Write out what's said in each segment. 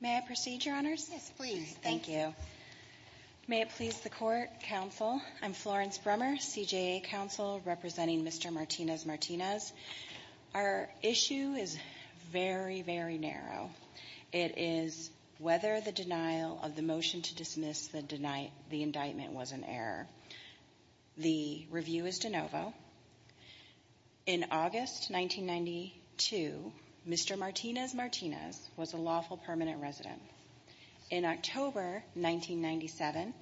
May I proceed, Your Honors? Yes, please. Thank you. May it please the Court, Counsel, I'm Florence Brummer, CJA Counsel representing Mr. Martinez-Martinez. Our issue is very, very narrow. It is whether the denial of the motion to dismiss the indictment was an error. The review is de novo. In August 1992, Mr. Martinez-Martinez was a lawful permanent resident. In October 1997,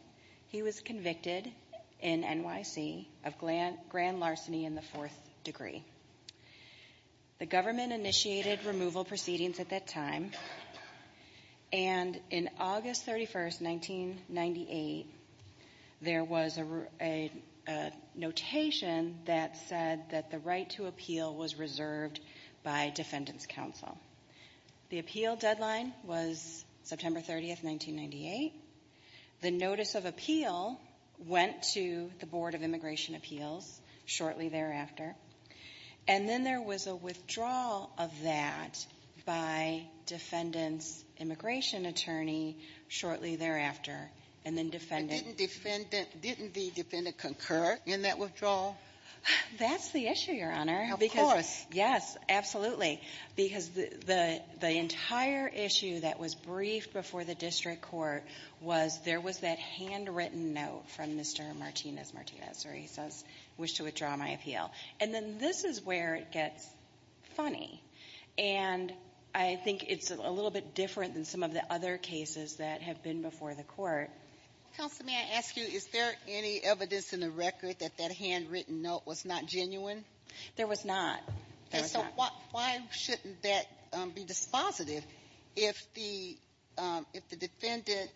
he was convicted in NYC of grand larceny in the fourth degree. The government initiated removal proceedings at that time, and in August 31st, 1998, there was a notation that said that the right to appeal was reserved by Defendant's Counsel. The appeal deadline was September 30th, 1998. The notice of appeal went to the Board of Immigration Appeals shortly thereafter. And then there was a withdrawal of that by Defendant's immigration attorney shortly thereafter, and then Defendant Didn't Defendant, didn't the Defendant concur in that withdrawal? That's the issue, Your Honor. Of course. Yes, absolutely. Because the entire issue that was briefed before the district court was there was that handwritten note from Mr. Martinez-Martinez, or he says, And then this is where it gets funny. And I think it's a little bit different than some of the other cases that have been before the court. Counselor, may I ask you, is there any evidence in the record that that handwritten note was not genuine? There was not. So why shouldn't that be dispositive if the defendant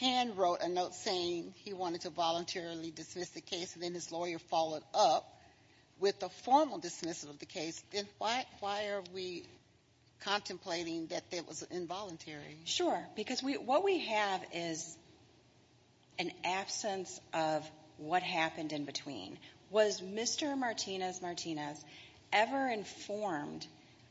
handwrote a note saying he wanted to voluntarily dismiss the case, and then his lawyer followed up with a formal dismissal of the case? Then why are we contemplating that it was involuntary? Sure. Because what we have is an absence of what happened in between. Was Mr. Martinez-Martinez ever informed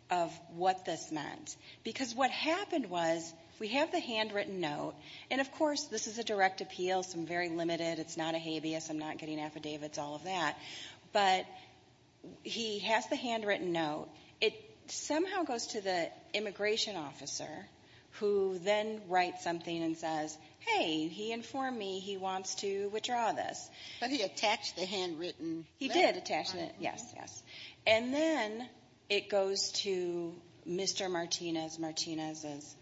of what this meant? Because what happened was, we have the handwritten note, and of course, this is a direct appeal, so I'm very limited, it's not a habeas, I'm not getting affidavits, all of that. But he has the handwritten note. It somehow goes to the immigration officer, who then writes something and says, Hey, he informed me he wants to withdraw this. But he attached the handwritten letter. He did attach it, yes, yes. And then it goes to Mr. Martinez-Martinez's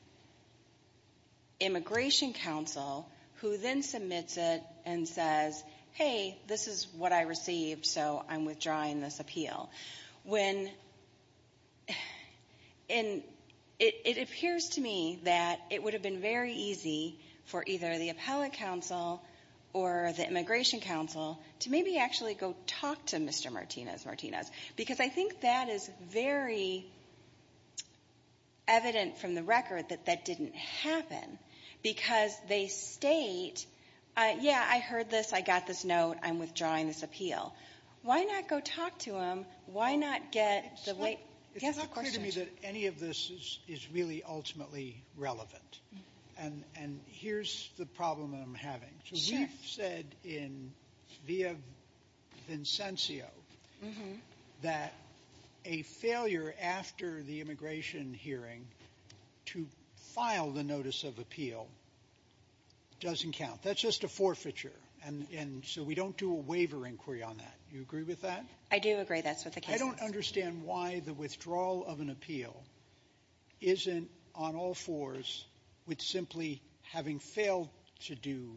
immigration counsel, who then submits it and says, Hey, this is what I received, so I'm withdrawing this appeal. When, and it appears to me that it would have been very easy for either the appellate counsel or the immigration counsel to maybe actually go talk to Mr. Martinez-Martinez. Because I think that is very evident from the record that that didn't happen. Because they state, yeah, I heard this, I got this note, I'm withdrawing this appeal. Why not go talk to him? Why not get the right, yes, the questions. It's not clear to me that any of this is really ultimately relevant. And here's the problem I'm having. So we've said in, via Vincencio, that a failure after the immigration hearing to file the notice of appeal doesn't count. That's just a forfeiture. And so we don't do a waiver inquiry on that. You agree with that? I do agree, that's what the case is. I don't understand why the withdrawal of an appeal isn't on all fours with simply having failed to do,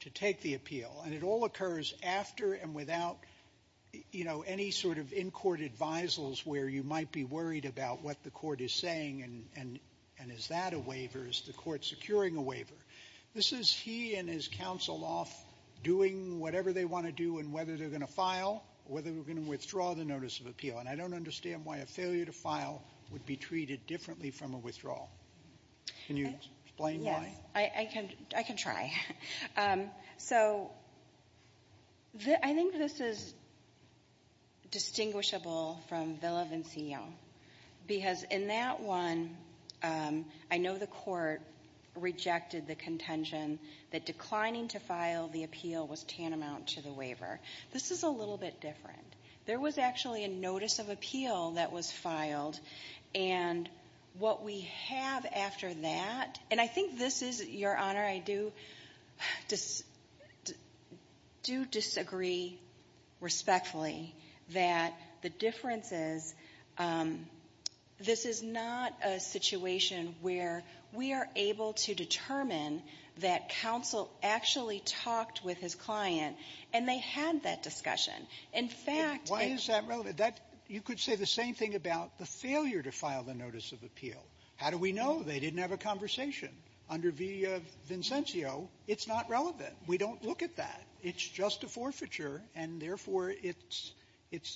to take the appeal. And it all occurs after and without, you know, any sort of in-court advisals where you might be worried about what the court is saying and is that a waiver? Is the court securing a waiver? This is he and his counsel off doing whatever they want to do and whether they're going to file, whether they're going to withdraw the notice of appeal. And I don't understand why a failure to file would be treated differently from a withdrawal. Can you explain why? I can try. So I think this is distinguishable from Villa-Vincencio, because in that one, I know the court rejected the contention that declining to file the appeal was tantamount to the waiver. This is a little bit different. There was actually a notice of appeal that was filed. And what we have after that, and I think this is, Your Honor, I do disagree respectfully that the difference is this is not a situation where we are able to determine that counsel actually talked with his client and they had that discussion. In fact, it's not relevant. Why is that relevant? You could say the same thing about the failure to file the notice of appeal. How do we know? They didn't have a conversation. Under Villa-Vincencio, it's not relevant. We don't look at that. It's just a forfeiture, and therefore, it's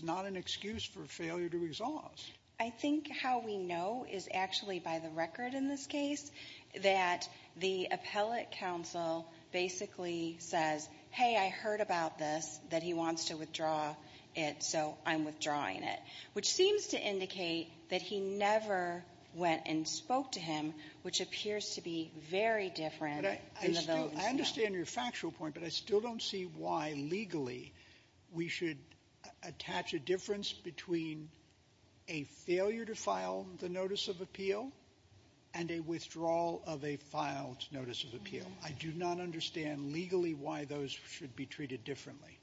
not an excuse for failure to exhaust. I think how we know is actually by the record in this case that the appellate counsel basically says, hey, I heard about this, that he wants to withdraw it, so I'm withdrawing it, which seems to indicate that he never went and spoke to him, which appears to be very different in those. I understand your factual point, but I still don't see why legally we should attach a difference between a failure to file the notice of appeal and a withdrawal of a filed notice of appeal. I do not understand legally why those should be treated differently.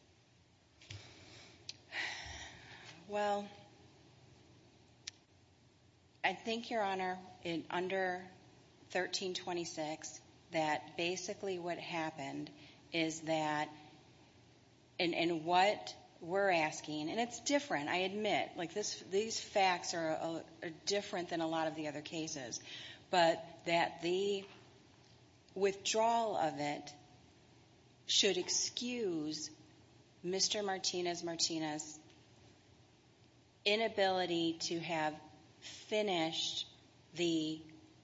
Well, I think, Your Honor, in under 1326, that basically what happened is that in what we're asking, and it's different, I admit. Like, these facts are different than a lot of the other cases, but that the withdrawal of it should excuse Mr. Martinez-Martinez's inability to have finished the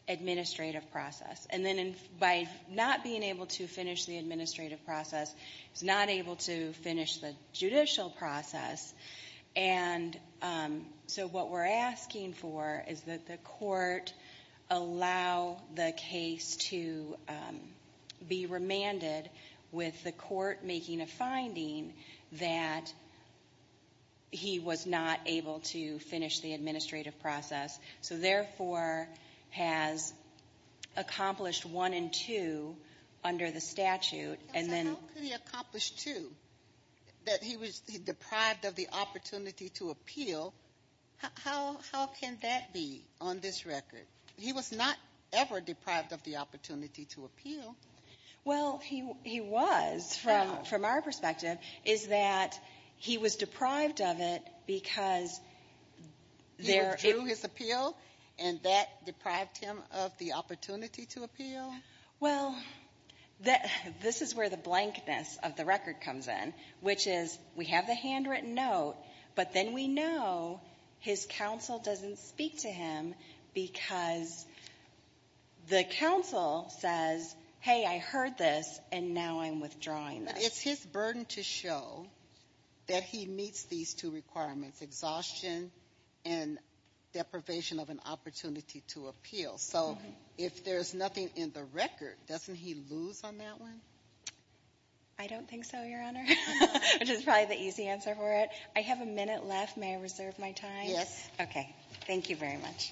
administrative process. And then by not being able to finish the administrative process, he's not able to finish the judicial process. And so what we're asking for is that the court allow the case to be remanded with the court making a finding that he was not able to finish the administrative process, so therefore has accomplished one and two under the statute, and then the accomplished two, that he was deprived of the opportunity to appeal. How can that be on this record? He was not ever deprived of the opportunity to appeal. Well, he was from our perspective, is that he was deprived of it because there He withdrew his appeal, and that deprived him of the opportunity to appeal? Well, this is where the blankness of the record comes in, which is we have the handwritten note, but then we know his counsel doesn't speak to him because the counsel says, hey, I heard this, and now I'm withdrawing this. It's his burden to show that he meets these two requirements, exhaustion and deprivation of an opportunity to appeal. So if there's nothing in the record, doesn't he lose on that one? I don't think so, Your Honor, which is probably the easy answer for it. I have a minute left. May I reserve my time? Yes. Okay. Thank you very much.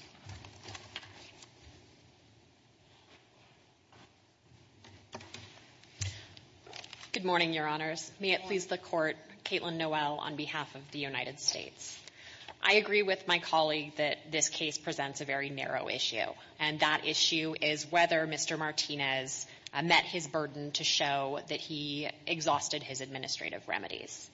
Good morning, Your Honors. May it please the Court. Caitlin Noel on behalf of the United States. I agree with my colleague that this case presents a very narrow issue, and that issue is whether Mr. Martinez met his burden to show that he exhausted his administrative remedies.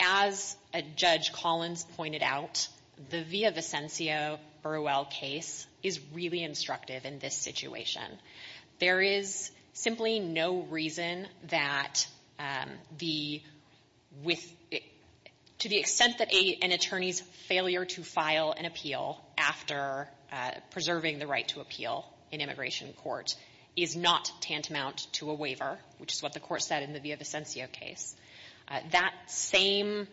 As Judge Collins pointed out, the Villavicencio-Burwell case is really instructive in this situation. There is simply no reason that the — with — to the extent that an attorney's failure to file an appeal after preserving the right to appeal in immigration court is not tantamount to a waiver, which is what the Court said in the Villavicencio case, that same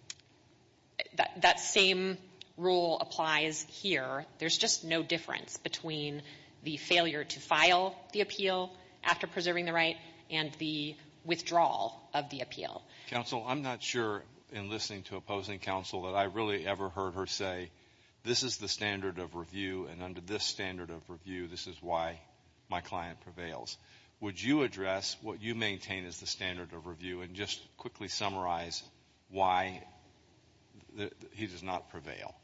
— that same rule applies here. There's just no difference between the failure to file the appeal after preserving the right and the withdrawal of the appeal. Counsel, I'm not sure, in listening to opposing counsel, that I really ever heard her say, this is the standard of review, and under this standard of review, this is why my client prevails. Would you address what you maintain is the standard of review and just quickly summarize why he does not prevail?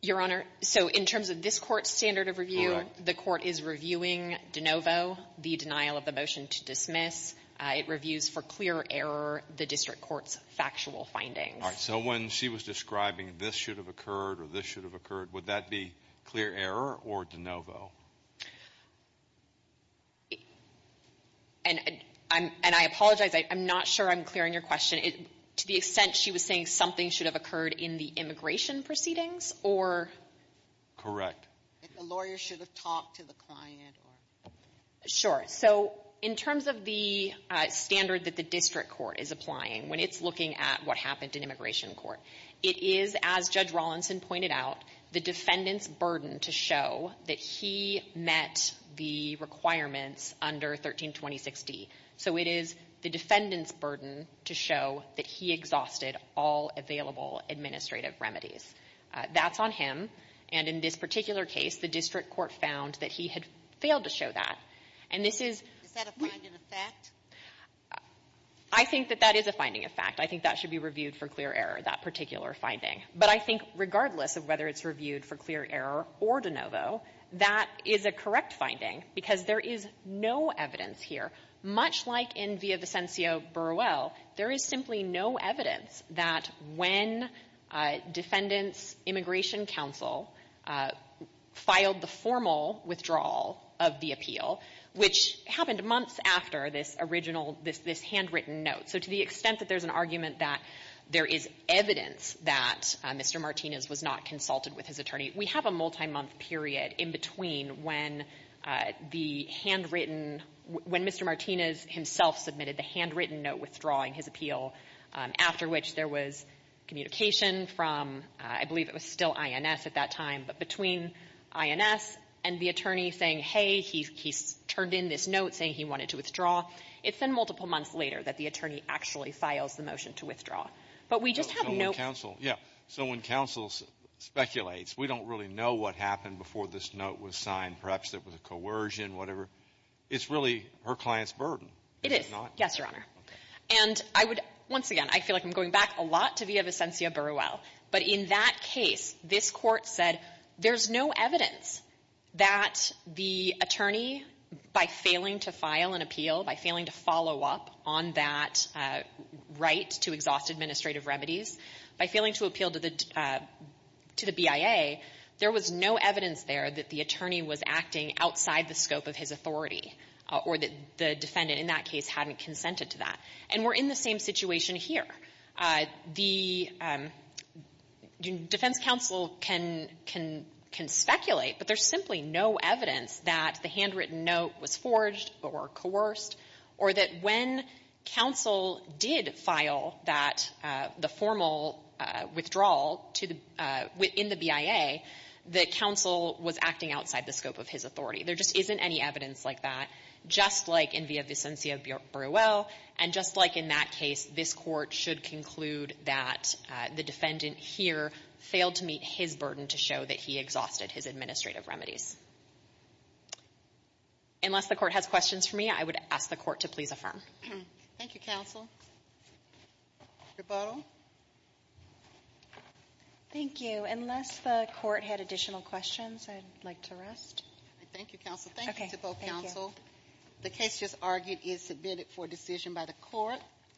Your Honor, so in terms of this Court's standard of review, the Court is reviewing DeNovo, the denial of the motion to dismiss. It reviews for clear error the district court's factual findings. All right. So when she was describing this should have occurred or this should have occurred, would that be clear error or DeNovo? And I'm — and I apologize, I'm not sure I'm clearing your question. To the extent she was saying something should have occurred in the immigration proceedings or? If the lawyer should have talked to the client or — Sure. So in terms of the standard that the district court is applying, when it's looking at what happened in immigration court, it is, as Judge Rawlinson pointed out, the defendant's burden to show that he met the requirements under 1326D. So it is the defendant's burden to show that he exhausted all available administrative remedies. That's on him. And in this particular case, the district court found that he had failed to show that. And this is — Is that a finding of fact? I think that that is a finding of fact. I think that should be reviewed for clear error, that particular finding. But I think regardless of whether it's reviewed for clear error or DeNovo, that is a correct finding because there is no evidence here. Much like in via Vicencio Burwell, there is simply no evidence that when Defendant's Immigration Counsel filed the formal withdrawal of the appeal, which happened months after this original — this — this handwritten note. So to the extent that there's an argument that there is evidence that Mr. Martinez was not consulted with his attorney, we have a multi-month period in between when the handwritten — when Mr. Martinez himself submitted the handwritten note withdrawing his appeal, after which there was communication from — I believe it was still INS at that time, but between INS and the attorney saying, hey, he turned in this note saying he wanted to withdraw. It's been multiple months later that the attorney actually files the motion to withdraw. But we just have no — So when counsel — yeah. And I would — once again, I feel like I'm going back a lot to via Vicencio Burwell, but in that case, this Court said there's no evidence that the attorney, by failing to file an appeal, by failing to follow up on that right to exhaust administrative remedies, by failing to appeal to the — to the BIA, there was no evidence there that the attorney was able to do that. The defense counsel can speculate, but there's simply no evidence that the handwritten note was forged or coerced, or that when counsel did file that — the formal withdrawal to the — in the BIA, that counsel was acting outside the scope of his authority. There just isn't any evidence like that, just like in via Vicencio Burwell, and just like in that case, this Court should conclude that the defendant here failed to meet his burden to show that he exhausted his administrative remedies. Unless the Court has questions for me, I would ask the Court to please affirm. Thank you, counsel. Rebuttal? Thank you. Unless the Court had additional questions, I'd like to rest. Thank you, counsel. Thank you to both counsel. The case just argued is submitted for decision by the Court.